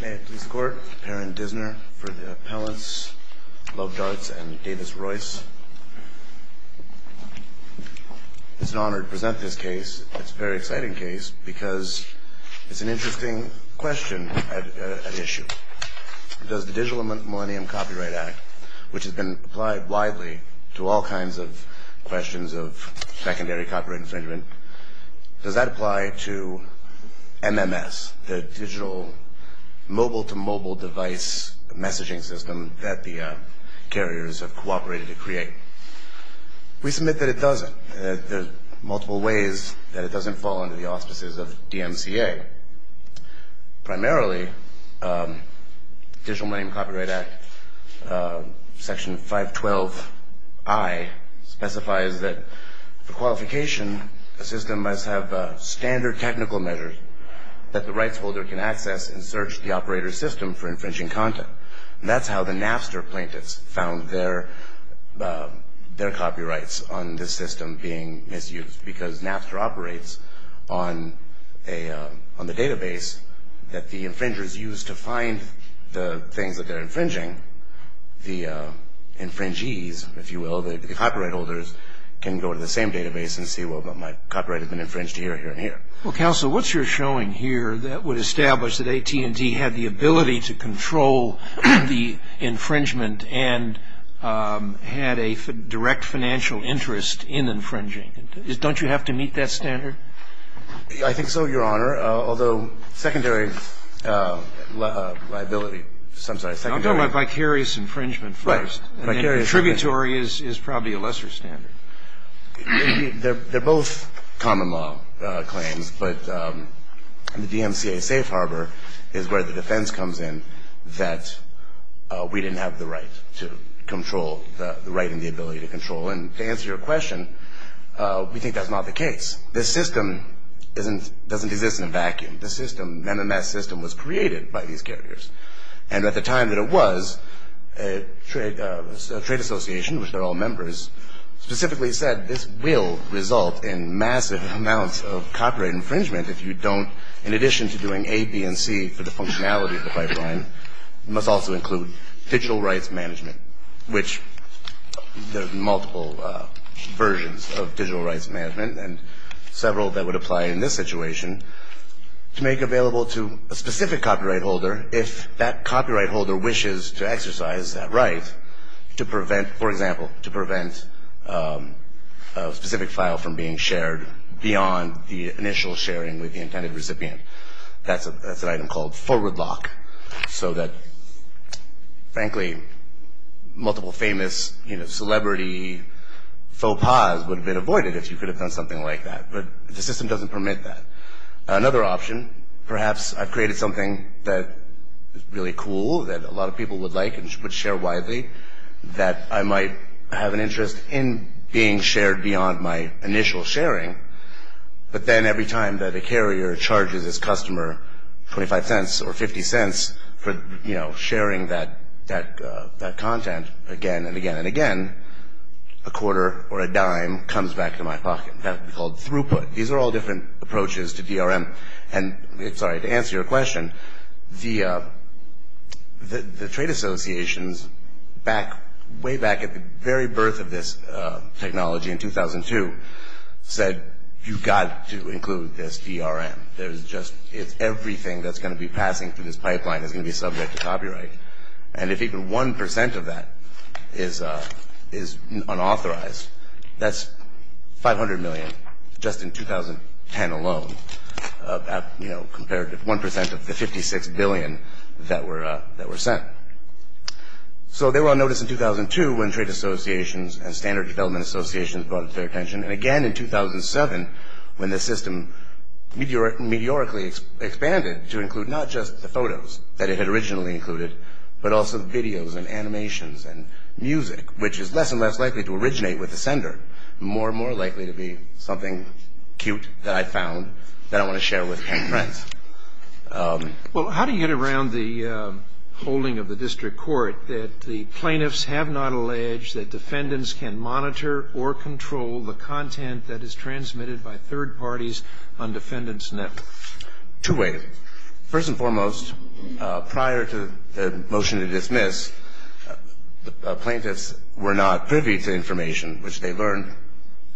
May it please the court, Perrin Dissner for the appellants, Lovdarts and Davis-Royce. It's an honor to present this case. It's a very exciting case because it's an interesting question at issue. Does the Digital Millennium Copyright Act, which has been applied widely to all kinds of questions of secondary copyright infringement, does that apply to MMS, the digital mobile-to-mobile device messaging system that the carriers have cooperated to create? We submit that it doesn't. There are multiple ways that it doesn't fall under the auspices of DMCA. Primarily, the Digital Millennium Copyright Act, Section 512I, specifies that for qualification, a system must have standard technical measures that the rights holder can access and search the operator's system for infringing content. That's how the Napster plaintiffs found their copyrights on this system being misused, because Napster operates on the database that the infringers use to find the things that they're infringing. The infringees, if you will, the copyright holders, can go to the same database and see, well, my copyright has been infringed here, here, and here. Counsel, what's your showing here that would establish that AT&T had the ability to control the infringement and had a direct financial interest in infringing? Don't you have to meet that standard? I think so, Your Honor. Although secondary liability, I'm sorry, secondary... I'm talking about vicarious infringement first. Right. And then tributary is probably a lesser standard. They're both common law claims, but the DMCA safe harbor is where the defense comes in that we didn't have the right to control, the right and the ability to control. And to answer your question, we think that's not the case. This system doesn't exist in a vacuum. The MMS system was created by these carriers. And at the time that it was, a trade association, which they're all members, specifically said this will result in massive amounts of copyright infringement if you don't, in addition to doing A, B, and C for the functionality of the pipeline, must also include digital rights management, which there are multiple versions of digital rights management and several that would apply in this situation, to make available to a specific copyright holder, if that copyright holder wishes to exercise that right, to prevent, for example, to prevent a specific file from being shared beyond the initial sharing with the intended recipient. That's an item called forward lock. So that, frankly, multiple famous celebrity faux pas would have been avoided if you could have done something like that. But the system doesn't permit that. Another option, perhaps I've created something that is really cool, that a lot of people would like and would share widely, that I might have an interest in being shared beyond my initial sharing, but then every time that a carrier charges its customer 25 cents or 50 cents for sharing that content again and again and again, a quarter or a dime comes back to my pocket. That's called throughput. These are all different approaches to DRM. Sorry, to answer your question, the trade associations way back at the very birth of this technology in 2002 said, you've got to include this DRM. Everything that's going to be passing through this pipeline is going to be subject to copyright. And if even 1% of that is unauthorized, that's $500 million just in 2010 alone compared to 1% of the $56 billion that were sent. So they were on notice in 2002 when trade associations and standard development associations brought their attention. And again in 2007 when the system meteorically expanded to include not just the photos that it had originally included, but also videos and animations and music, which is less and less likely to originate with the sender, more and more likely to be something cute that I found that I want to share with my friends. Well, how do you get around the holding of the district court that the plaintiffs have not alleged that defendants can monitor or control the content that is transmitted by third parties on defendants' networks? Two ways. First and foremost, prior to the motion to dismiss, plaintiffs were not privy to information which they learned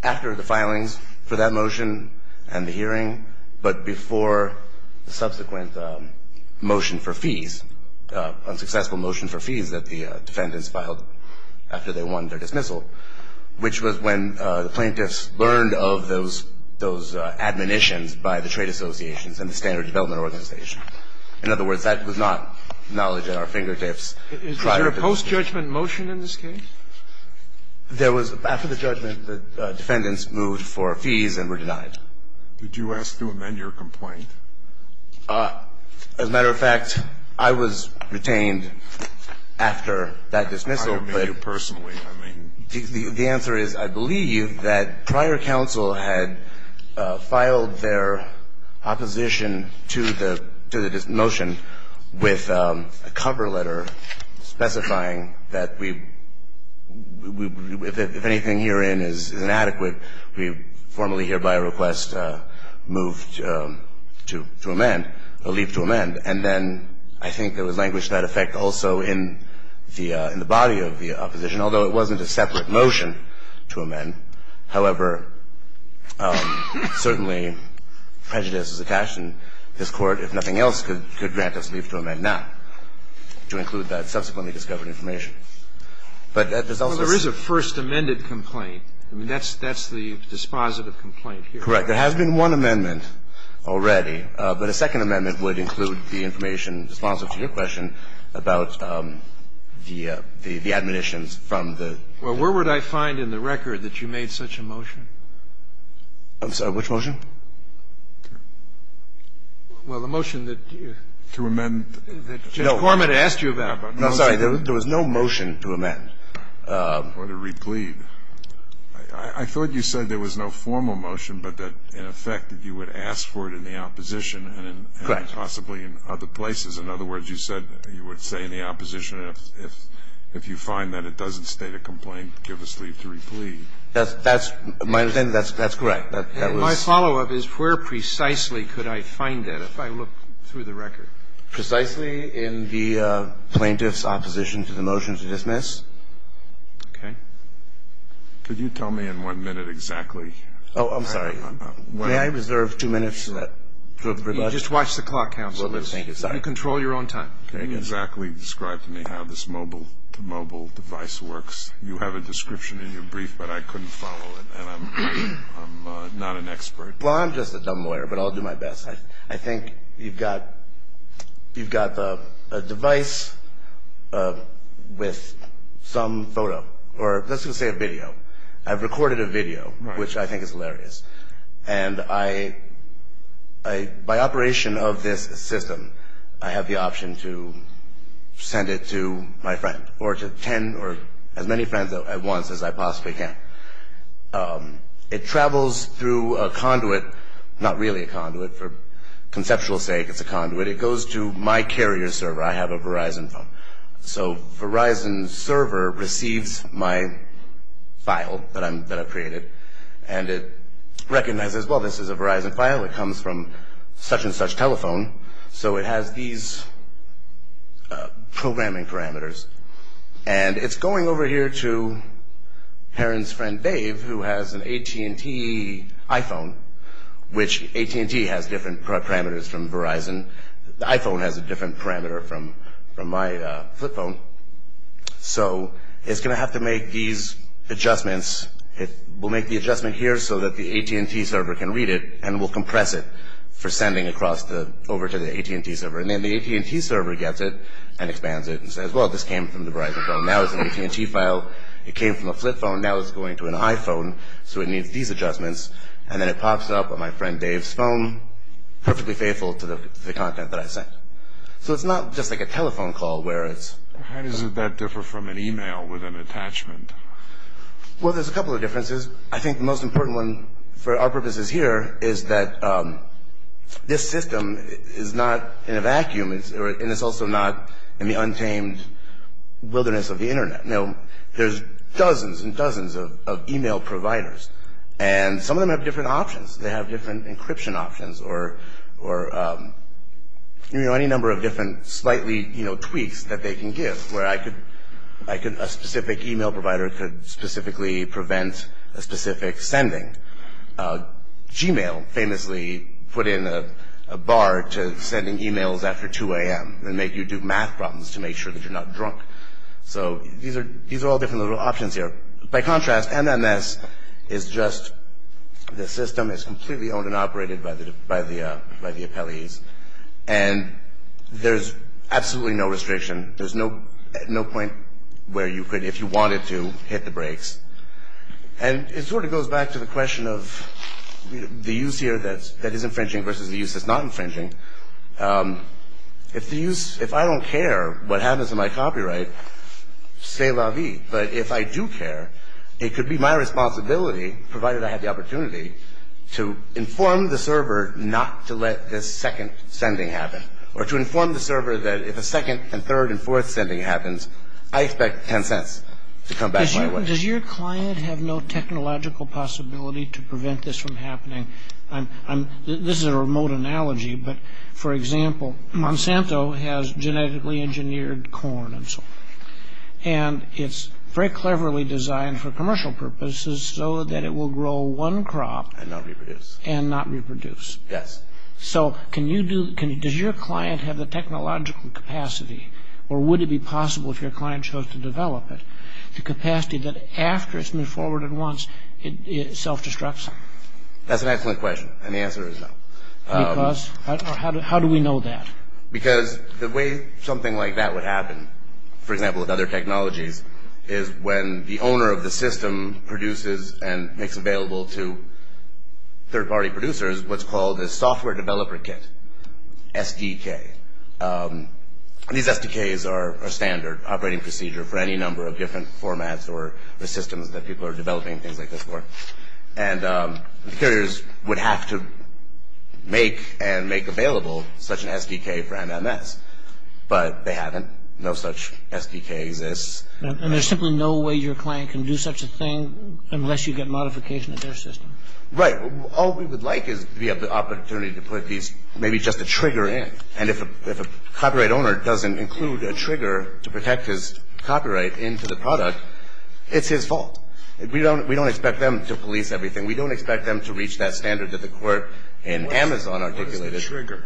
after the filings for that motion and the hearing, but before the subsequent motion for fees, unsuccessful motion for fees that the defendants filed after they won their dismissal, which was when the plaintiffs learned of those admonitions by the trade associations and the standard development organization. In other words, that was not knowledge at our fingertips prior to the motion. Is there a post-judgment motion in this case? There was. After the judgment, the defendants moved for fees and were denied. Did you ask to amend your complaint? As a matter of fact, I was retained after that dismissal, but the answer is I believe that prior counsel had filed their opposition to the motion with a cover letter specifying that if anything herein is inadequate, we formally hereby request a move to amend, a leap to amend, and then I think there was language to that effect also in the body of the opposition, although it wasn't a separate motion to amend. However, certainly prejudice is attached, and this Court, if nothing else, could grant us leave to amend now to include that subsequently discovered information. But there's also a second. Well, there is a first amended complaint. I mean, that's the dispositive complaint here. Correct. There has been one amendment already, but a second amendment would include the information in response to your question about the admonitions from the ---- Well, where would I find in the record that you made such a motion? I'm sorry. Which motion? Well, the motion that you ---- To amend. No. That Judge Cormitt asked you about. No, I'm sorry. There was no motion to amend. I thought you said there was no formal motion, but that in effect you would ask for it in the opposition. Correct. And possibly in other places. In other words, you said you would say in the opposition, if you find that it doesn't state a complaint, give us leave to replead. That's my understanding. That's correct. My follow-up is where precisely could I find it, if I look through the record? Precisely in the plaintiff's opposition to the motion to dismiss. Okay. Could you tell me in one minute exactly? Oh, I'm sorry. May I reserve two minutes for that? Just watch the clock, counsel. Thank you. Sorry. You control your own time. Can you exactly describe to me how this mobile-to-mobile device works? You have a description in your brief, but I couldn't follow it, and I'm not an expert. Well, I'm just a dumb lawyer, but I'll do my best. I think you've got a device with some photo, or let's just say a video. I've recorded a video, which I think is hilarious. And by operation of this system, I have the option to send it to my friend, or to as many friends at once as I possibly can. It travels through a conduit, not really a conduit. For conceptual sake, it's a conduit. It goes to my carrier server. I have a Verizon phone. So Verizon's server receives my file that I've created, and it recognizes, well, this is a Verizon file. It comes from such-and-such telephone, so it has these programming parameters. And it's going over here to Heron's friend, Dave, who has an AT&T iPhone, which AT&T has different parameters from Verizon. The iPhone has a different parameter from my flip phone. So it's going to have to make these adjustments. We'll make the adjustment here so that the AT&T server can read it, and we'll compress it for sending over to the AT&T server. And then the AT&T server gets it and expands it and says, well, this came from the Verizon phone. Now it's an AT&T file. It came from a flip phone. Now it's going to an iPhone, so it needs these adjustments. And then it pops up on my friend Dave's phone, perfectly faithful to the content that I sent. So it's not just like a telephone call where it's... How does that differ from an e-mail with an attachment? Well, there's a couple of differences. I think the most important one for our purposes here is that this system is not in a vacuum, and it's also not in the untamed wilderness of the Internet. Now there's dozens and dozens of e-mail providers, and some of them have different options. They have different encryption options or any number of different slightly tweaks that they can give, where a specific e-mail provider could specifically prevent a specific sending. Gmail famously put in a bar to sending e-mails after 2 a.m. and make you do math problems to make sure that you're not drunk. So these are all different little options here. By contrast, MMS is just the system. It's completely owned and operated by the appellees. And there's absolutely no restriction. There's no point where you could, if you wanted to, hit the brakes. And it sort of goes back to the question of the use here that is infringing versus the use that's not infringing. If I don't care what happens to my copyright, c'est la vie. But if I do care, it could be my responsibility, provided I have the opportunity, to inform the server not to let this second sending happen or to inform the server that if a second and third and fourth sending happens, I expect 10 cents to come back my way. Does your client have no technological possibility to prevent this from happening? This is a remote analogy, but, for example, Monsanto has genetically engineered corn and so on. And it's very cleverly designed for commercial purposes so that it will grow one crop. And not reproduce. And not reproduce. Yes. So does your client have the technological capacity, or would it be possible if your client chose to develop it, the capacity that after it's moved forward at once, it self-destructs? That's an excellent question. And the answer is no. Because? How do we know that? Because the way something like that would happen, for example, with other technologies, is when the owner of the system produces and makes available to third-party producers what's called a software developer kit, SDK. These SDKs are standard operating procedure for any number of different formats or systems that people are developing things like this for. And producers would have to make and make available such an SDK for MMS. But they haven't. No such SDK exists. And there's simply no way your client can do such a thing unless you get modification of their system? Right. All we would like is to be able to have the opportunity to put these, maybe just a trigger in. And if a copyright owner doesn't include a trigger to protect his copyright into the product, it's his fault. We don't expect them to police everything. We don't expect them to reach that standard that the court in Amazon articulated. What is the trigger?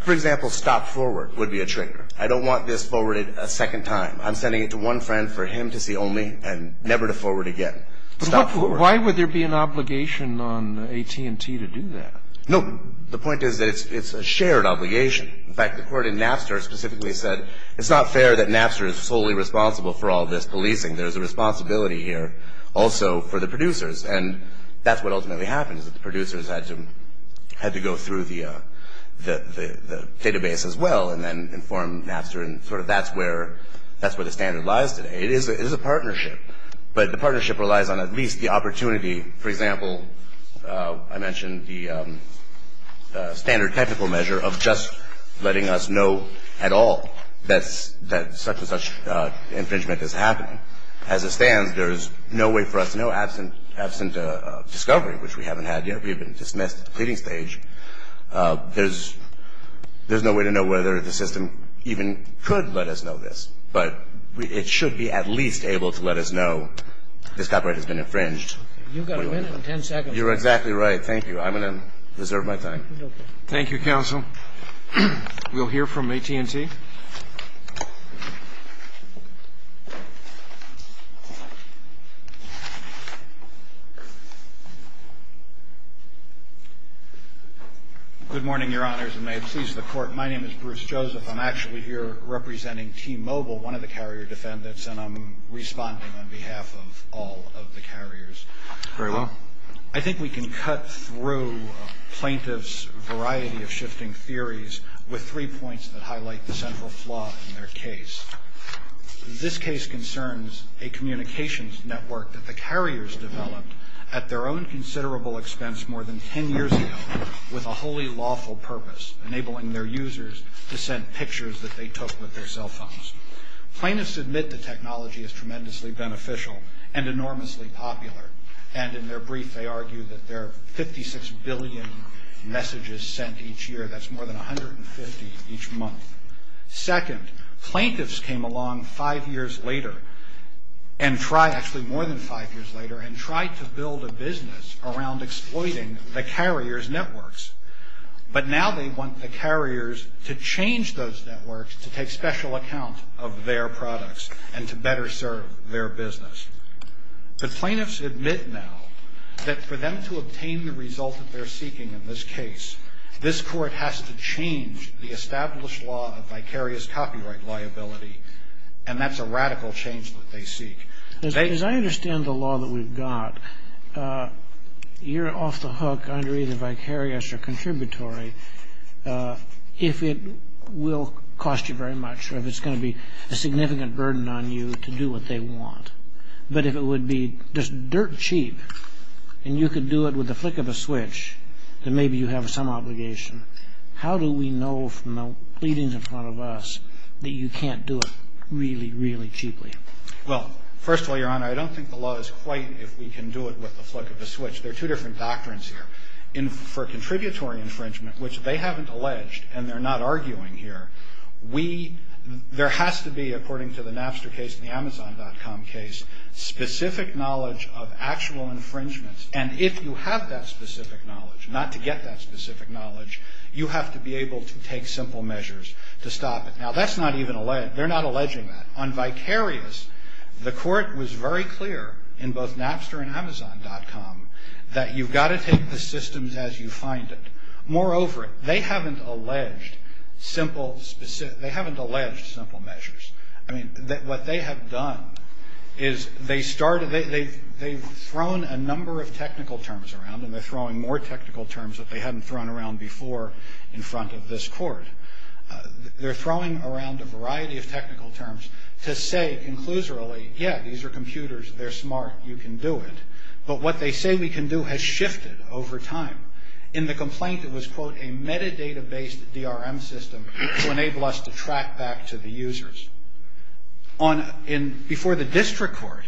For example, stop forward would be a trigger. I don't want this forwarded a second time. I'm sending it to one friend for him to see only and never to forward again. Stop forward. But why would there be an obligation on AT&T to do that? No. The point is that it's a shared obligation. In fact, the court in Napster specifically said it's not fair that Napster is solely responsible for all this policing. There's a responsibility here also for the producers, and that's what ultimately happened is that the producers had to go through the database as well and then inform Napster and sort of that's where the standard lies today. It is a partnership, but the partnership relies on at least the opportunity. For example, I mentioned the standard technical measure of just letting us know at all that such and such infringement is happening. As it stands, there's no way for us, no absent discovery, which we haven't had yet. We've been dismissed at the pleading stage. There's no way to know whether the system even could let us know this, but it should be at least able to let us know this copyright has been infringed. You've got a minute and ten seconds. You're exactly right. Thank you. I'm going to reserve my time. Thank you, counsel. We'll hear from AT&T. Thank you. Good morning, Your Honors, and may it please the Court. My name is Bruce Joseph. I'm actually here representing T-Mobile, one of the carrier defendants, and I'm responding on behalf of all of the carriers. Very well. I think we can cut through plaintiff's variety of shifting theories with three points that highlight the central flaw in their case. This case concerns a communications network that the carriers developed at their own considerable expense more than ten years ago with a wholly lawful purpose, enabling their users to send pictures that they took with their cell phones. Plaintiffs admit the technology is tremendously beneficial and enormously popular, and in their brief they argue that there are 56 billion messages sent each year. That's more than 150 each month. Second, plaintiffs came along five years later and tried, actually more than five years later, and tried to build a business around exploiting the carriers' networks, but now they want the carriers to change those networks to take special account of their products and to better serve their business. The plaintiffs admit now that for them to obtain the result that they're seeking in this case, this court has to change the established law of vicarious copyright liability, and that's a radical change that they seek. As I understand the law that we've got, you're off the hook under either vicarious or contributory if it will cost you very much or if it's going to be a significant burden on you to do what they want. But if it would be just dirt cheap and you could do it with the flick of a switch, then maybe you have some obligation. How do we know from the pleadings in front of us that you can't do it really, really cheaply? Well, first of all, Your Honor, I don't think the law is quite if we can do it with the flick of a switch. There are two different doctrines here. For contributory infringement, which they haven't alleged and they're not arguing here, there has to be, according to the Napster case and the Amazon.com case, specific knowledge of actual infringements. And if you have that specific knowledge, not to get that specific knowledge, you have to be able to take simple measures to stop it. Now, they're not alleging that. On vicarious, the court was very clear in both Napster and Amazon.com that you've got to take the systems as you find it. Moreover, they haven't alleged simple measures. I mean, what they have done is they've thrown a number of technical terms around and they're throwing more technical terms that they haven't thrown around before in front of this court. They're throwing around a variety of technical terms to say conclusorily, yeah, these are computers, they're smart, you can do it. But what they say we can do has shifted over time. In the complaint, it was, quote, a metadata-based DRM system to enable us to track back to the users. Before the district court,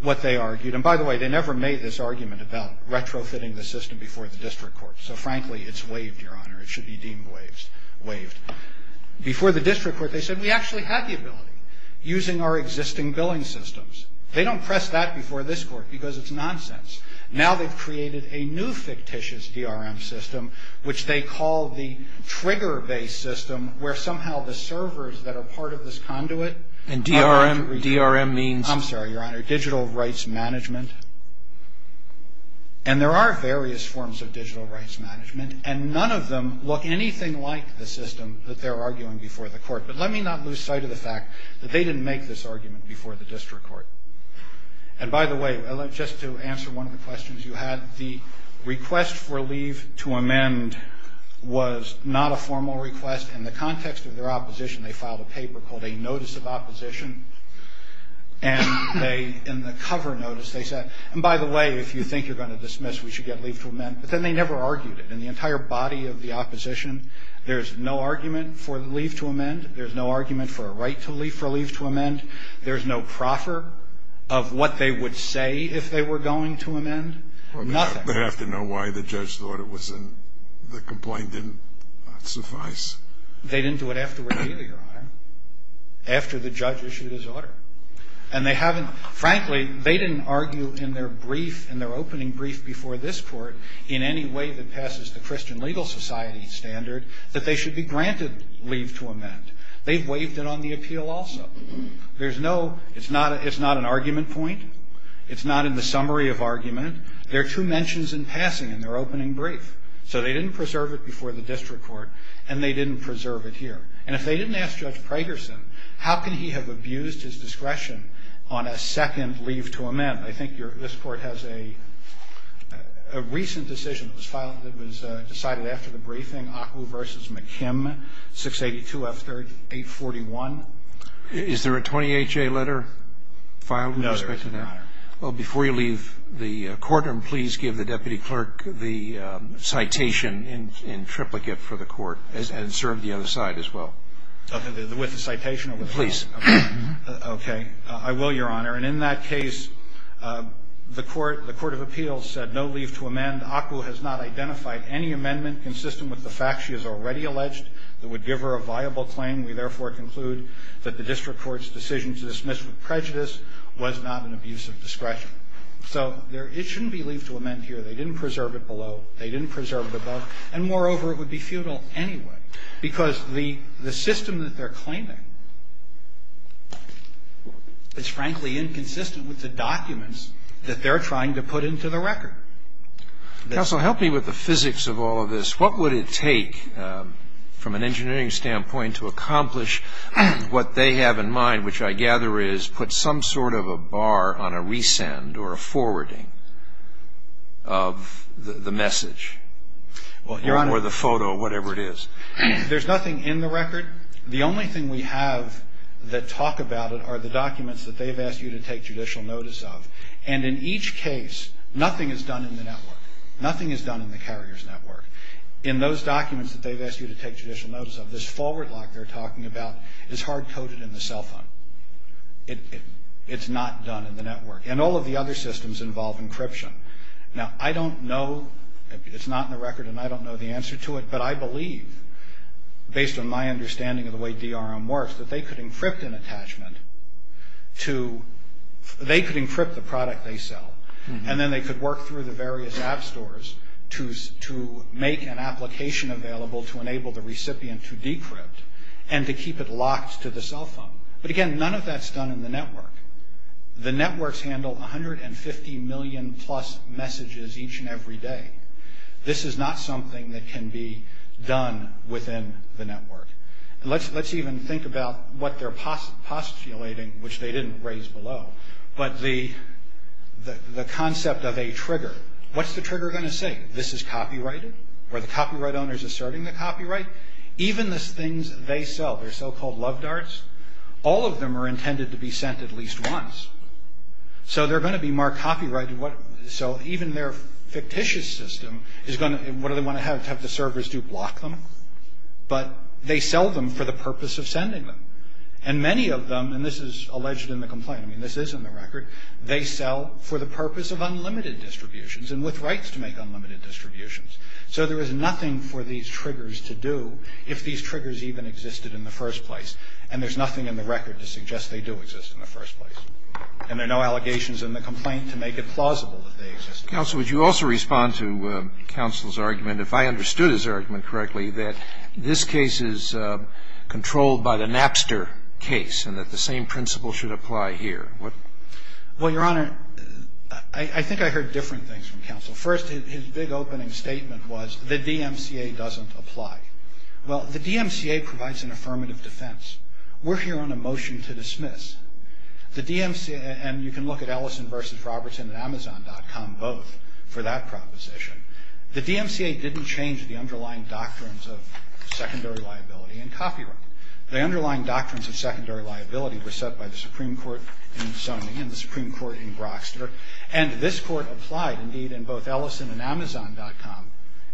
what they argued, and by the way, they never made this argument about retrofitting the system before the district court, so frankly, it's waived, Your Honor. It should be deemed waived. Before the district court, they said we actually had the ability, using our existing billing systems. They don't press that before this court because it's nonsense. Now they've created a new fictitious DRM system, which they call the trigger-based system, where somehow the servers that are part of this conduit aren't able to recover. And DRM means? I'm sorry, Your Honor. Digital rights management. And there are various forms of digital rights management, and none of them look anything like the system that they're arguing before the court. But let me not lose sight of the fact that they didn't make this argument before the district court. And by the way, just to answer one of the questions you had, the request for leave to amend was not a formal request. In the context of their opposition, they filed a paper called a notice of opposition, and in the cover notice they said, and by the way, if you think you're going to dismiss, we should get leave to amend. But then they never argued it. In the entire body of the opposition, there's no argument for leave to amend. There's no argument for a right for leave to amend. There's no proffer of what they would say if they were going to amend. Nothing. Well, they have to know why the judge thought it was in. The complaint didn't suffice. They didn't do it afterward either, Your Honor, after the judge issued his order. And they haven't, frankly, they didn't argue in their brief, in their opening brief before this court, in any way that passes the Christian Legal Society standard, that they should be granted leave to amend. They've waived it on the appeal also. There's no, it's not an argument point. It's not in the summary of argument. There are two mentions in passing in their opening brief. So they didn't preserve it before the district court, and they didn't preserve it here. And if they didn't ask Judge Pragerson, how can he have abused his discretion on a second leave to amend? I think this court has a recent decision that was decided after the briefing, ACWU v. McKim, 682 F. 3841. Is there a 28-J letter filed in respect to that? No, there is not, Your Honor. Well, before you leave the courtroom, please give the deputy clerk the citation in triplicate for the court, and serve the other side as well. Okay, with the citation of the court. Please. Okay. I will, Your Honor. And in that case, the court of appeals said no leave to amend. ACWU has not identified any amendment consistent with the fact she has already alleged that would give her a viable claim. We, therefore, conclude that the district court's decision to dismiss with prejudice was not an abuse of discretion. So it shouldn't be leave to amend here. They didn't preserve it below. They didn't preserve it above. And, moreover, it would be futile anyway, because the system that they're claiming is, frankly, inconsistent with the documents that they're trying to put into the record. Counsel, help me with the physics of all of this. What would it take, from an engineering standpoint, to accomplish what they have in mind, which I gather is put some sort of a bar on a resend or a forwarding of the message? Well, Your Honor. Or the photo, whatever it is. There's nothing in the record. The only thing we have that talk about it are the documents that they've asked you to take judicial notice of. And in each case, nothing is done in the network. Nothing is done in the carrier's network. In those documents that they've asked you to take judicial notice of, this forward lock they're talking about is hard-coded in the cell phone. It's not done in the network. And all of the other systems involve encryption. Now, I don't know. It's not in the record, and I don't know the answer to it. But I believe, based on my understanding of the way DRM works, that they could encrypt an attachment. They could encrypt the product they sell, and then they could work through the various app stores to make an application available to enable the recipient to decrypt and to keep it locked to the cell phone. But, again, none of that's done in the network. The networks handle 150 million-plus messages each and every day. This is not something that can be done within the network. And let's even think about what they're postulating, which they didn't raise below, but the concept of a trigger. What's the trigger going to say? This is copyrighted? Are the copyright owners asserting the copyright? Even the things they sell, their so-called love darts, all of them are intended to be sent at least once. So they're going to be more copyrighted. So even their fictitious system, what do they want to have the servers do, block them? But they sell them for the purpose of sending them. And many of them, and this is alleged in the complaint. I mean, this is in the record. They sell for the purpose of unlimited distributions and with rights to make unlimited distributions. So there is nothing for these triggers to do if these triggers even existed in the first place. And there's nothing in the record to suggest they do exist in the first place. And there are no allegations in the complaint to make it plausible that they exist. Counsel, would you also respond to counsel's argument, if I understood his argument correctly, that this case is controlled by the Napster case and that the same principle should apply here? Well, Your Honor, I think I heard different things from counsel. First, his big opening statement was the DMCA doesn't apply. Well, the DMCA provides an affirmative defense. We're here on a motion to dismiss. And you can look at Ellison versus Robertson and Amazon.com both for that proposition. The DMCA didn't change the underlying doctrines of secondary liability and copyright. The underlying doctrines of secondary liability were set by the Supreme Court in Sony and the Supreme Court in Broxter. And this court applied, indeed, in both Ellison and Amazon.com,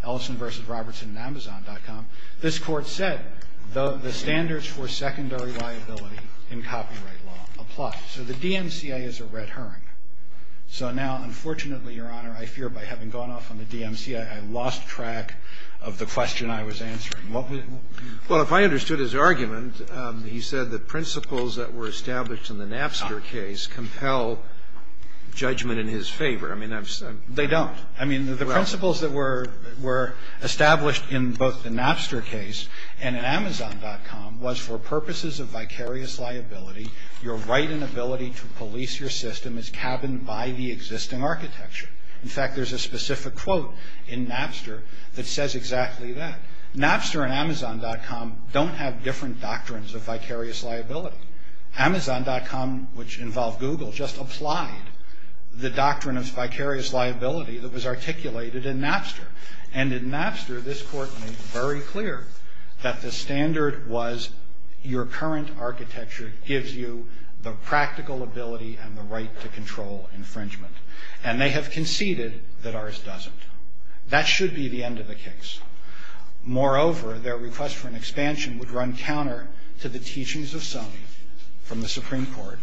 Ellison versus Robertson and Amazon.com. This court said the standards for secondary liability in copyright law apply. So the DMCA is a red herring. So now, unfortunately, Your Honor, I fear by having gone off on the DMCA, I lost track of the question I was answering. Well, if I understood his argument, he said the principles that were established in the Napster case compel judgment in his favor. I mean, I've said they don't. I mean, the principles that were established in both the Napster case and in Amazon.com was for purposes of vicarious liability, your right and ability to police your system is cabined by the existing architecture. In fact, there's a specific quote in Napster that says exactly that. Napster and Amazon.com don't have different doctrines of vicarious liability. Amazon.com, which involved Google, just applied the doctrine of vicarious liability that was articulated in Napster. And in Napster, this court made very clear that the standard was your current architecture gives you the practical ability and the right to control infringement. And they have conceded that ours doesn't. That should be the end of the case. Moreover, their request for an expansion would run counter to the teachings of Rockster from the Supreme Court,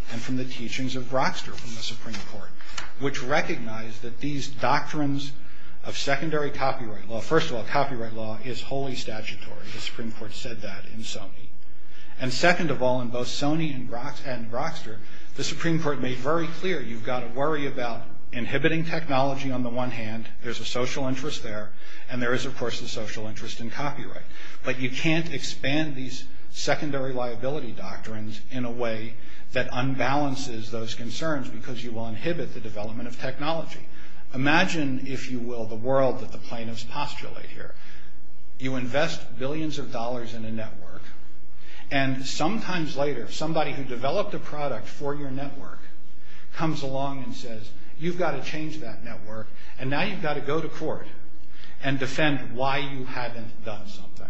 which recognized that these doctrines of secondary copyright law. First of all, copyright law is wholly statutory. The Supreme Court said that in Sony. And second of all, in both Sony and Rockster, the Supreme Court made very clear you've got to worry about inhibiting technology on the one hand. There's a social interest there. And there is, of course, the social interest in copyright. But you can't expand these secondary liability doctrines in a way that raises concerns because you will inhibit the development of technology. Imagine, if you will, the world that the plaintiffs postulate here. You invest billions of dollars in a network. And sometimes later, somebody who developed a product for your network comes along and says, you've got to change that network. And now you've got to go to court and defend why you haven't done something.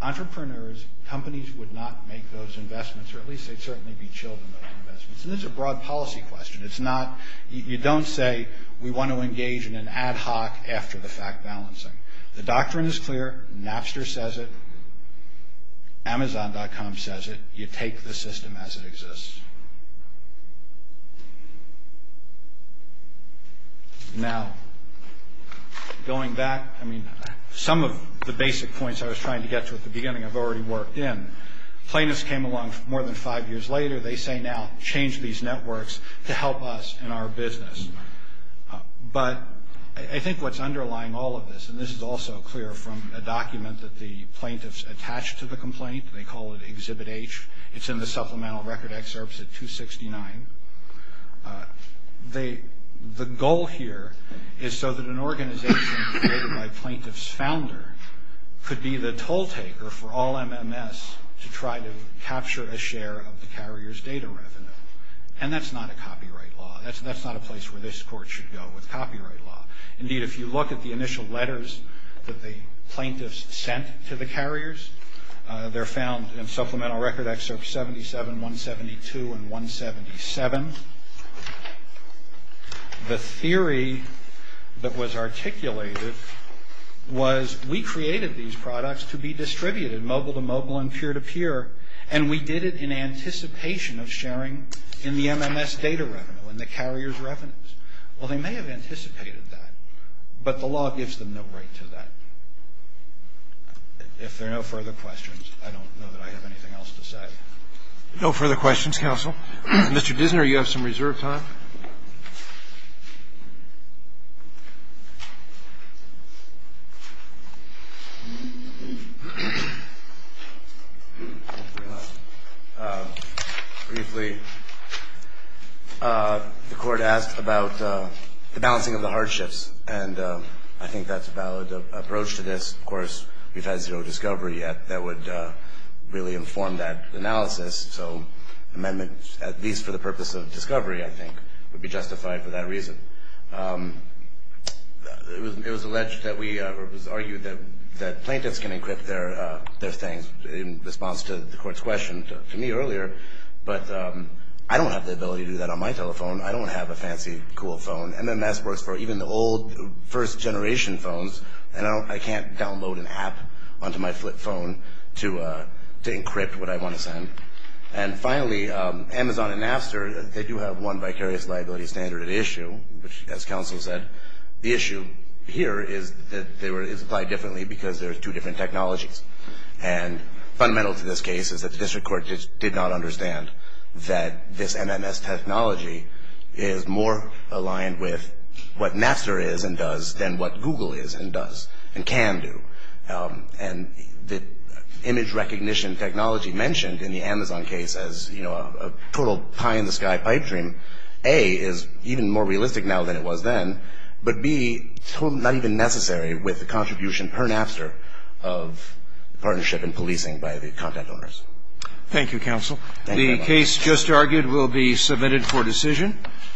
Entrepreneurs, companies would not make those investments, or at least they'd certainly be chilled in those investments. And this is a broad policy question. You don't say we want to engage in an ad hoc after the fact balancing. The doctrine is clear. Napster says it. Amazon.com says it. You take the system as it exists. Now, going back, I mean, some of the basic points I was trying to get to at the beginning I've already worked in. Plaintiffs came along more than five years later. They say now change these networks to help us in our business. But I think what's underlying all of this, and this is also clear from a document that the plaintiffs attached to the complaint, they call it Exhibit H. It's in the supplemental record excerpts at 269. The goal here is so that an organization created by a plaintiff's founder could be the toll taker for all MMS to try to capture a share of the carrier's data revenue. And that's not a copyright law. That's not a place where this court should go with copyright law. Indeed, if you look at the initial letters that the plaintiffs sent to the carriers, they're found in supplemental record excerpts 77, 172, and 177. The theory that was articulated was we created these products to be distributed mobile-to-mobile and peer-to-peer, and we did it in anticipation of sharing in the MMS data revenue and the carrier's revenues. Well, they may have anticipated that, but the law gives them no right to that. If there are no further questions, I don't know that I have anything else to say. No further questions, counsel. Mr. Dissner, you have some reserve time. Briefly, the Court asked about the balancing of the hardships, and I think that's a valid approach to this. Of course, we've had zero discovery yet that would really inform that analysis. So amendments, at least for the purpose of discovery, I think, would be justified for that reason. It was alleged that we argued that plaintiffs can encrypt their things in response to the Court's question to me earlier, but I don't have the ability to do that on my telephone. I don't have a fancy, cool phone. MMS works for even the old, first-generation phones, and I can't download an app onto my flip phone to encrypt what I want to send. And finally, Amazon and Napster, they do have one vicarious liability standard at issue, which, as counsel said, the issue here is that it's applied differently because there are two different technologies. And fundamental to this case is that the District Court did not understand that this MMS technology is more aligned with what Napster is and does than what Google is and does and can do. And the image recognition technology mentioned in the Amazon case as, you know, a total pie-in-the-sky pipe dream, A, is even more realistic now than it was then, but B, not even necessary with the contribution per Napster of partnership and policing by the content owners. Thank you, counsel. The case just argued will be submitted for decision.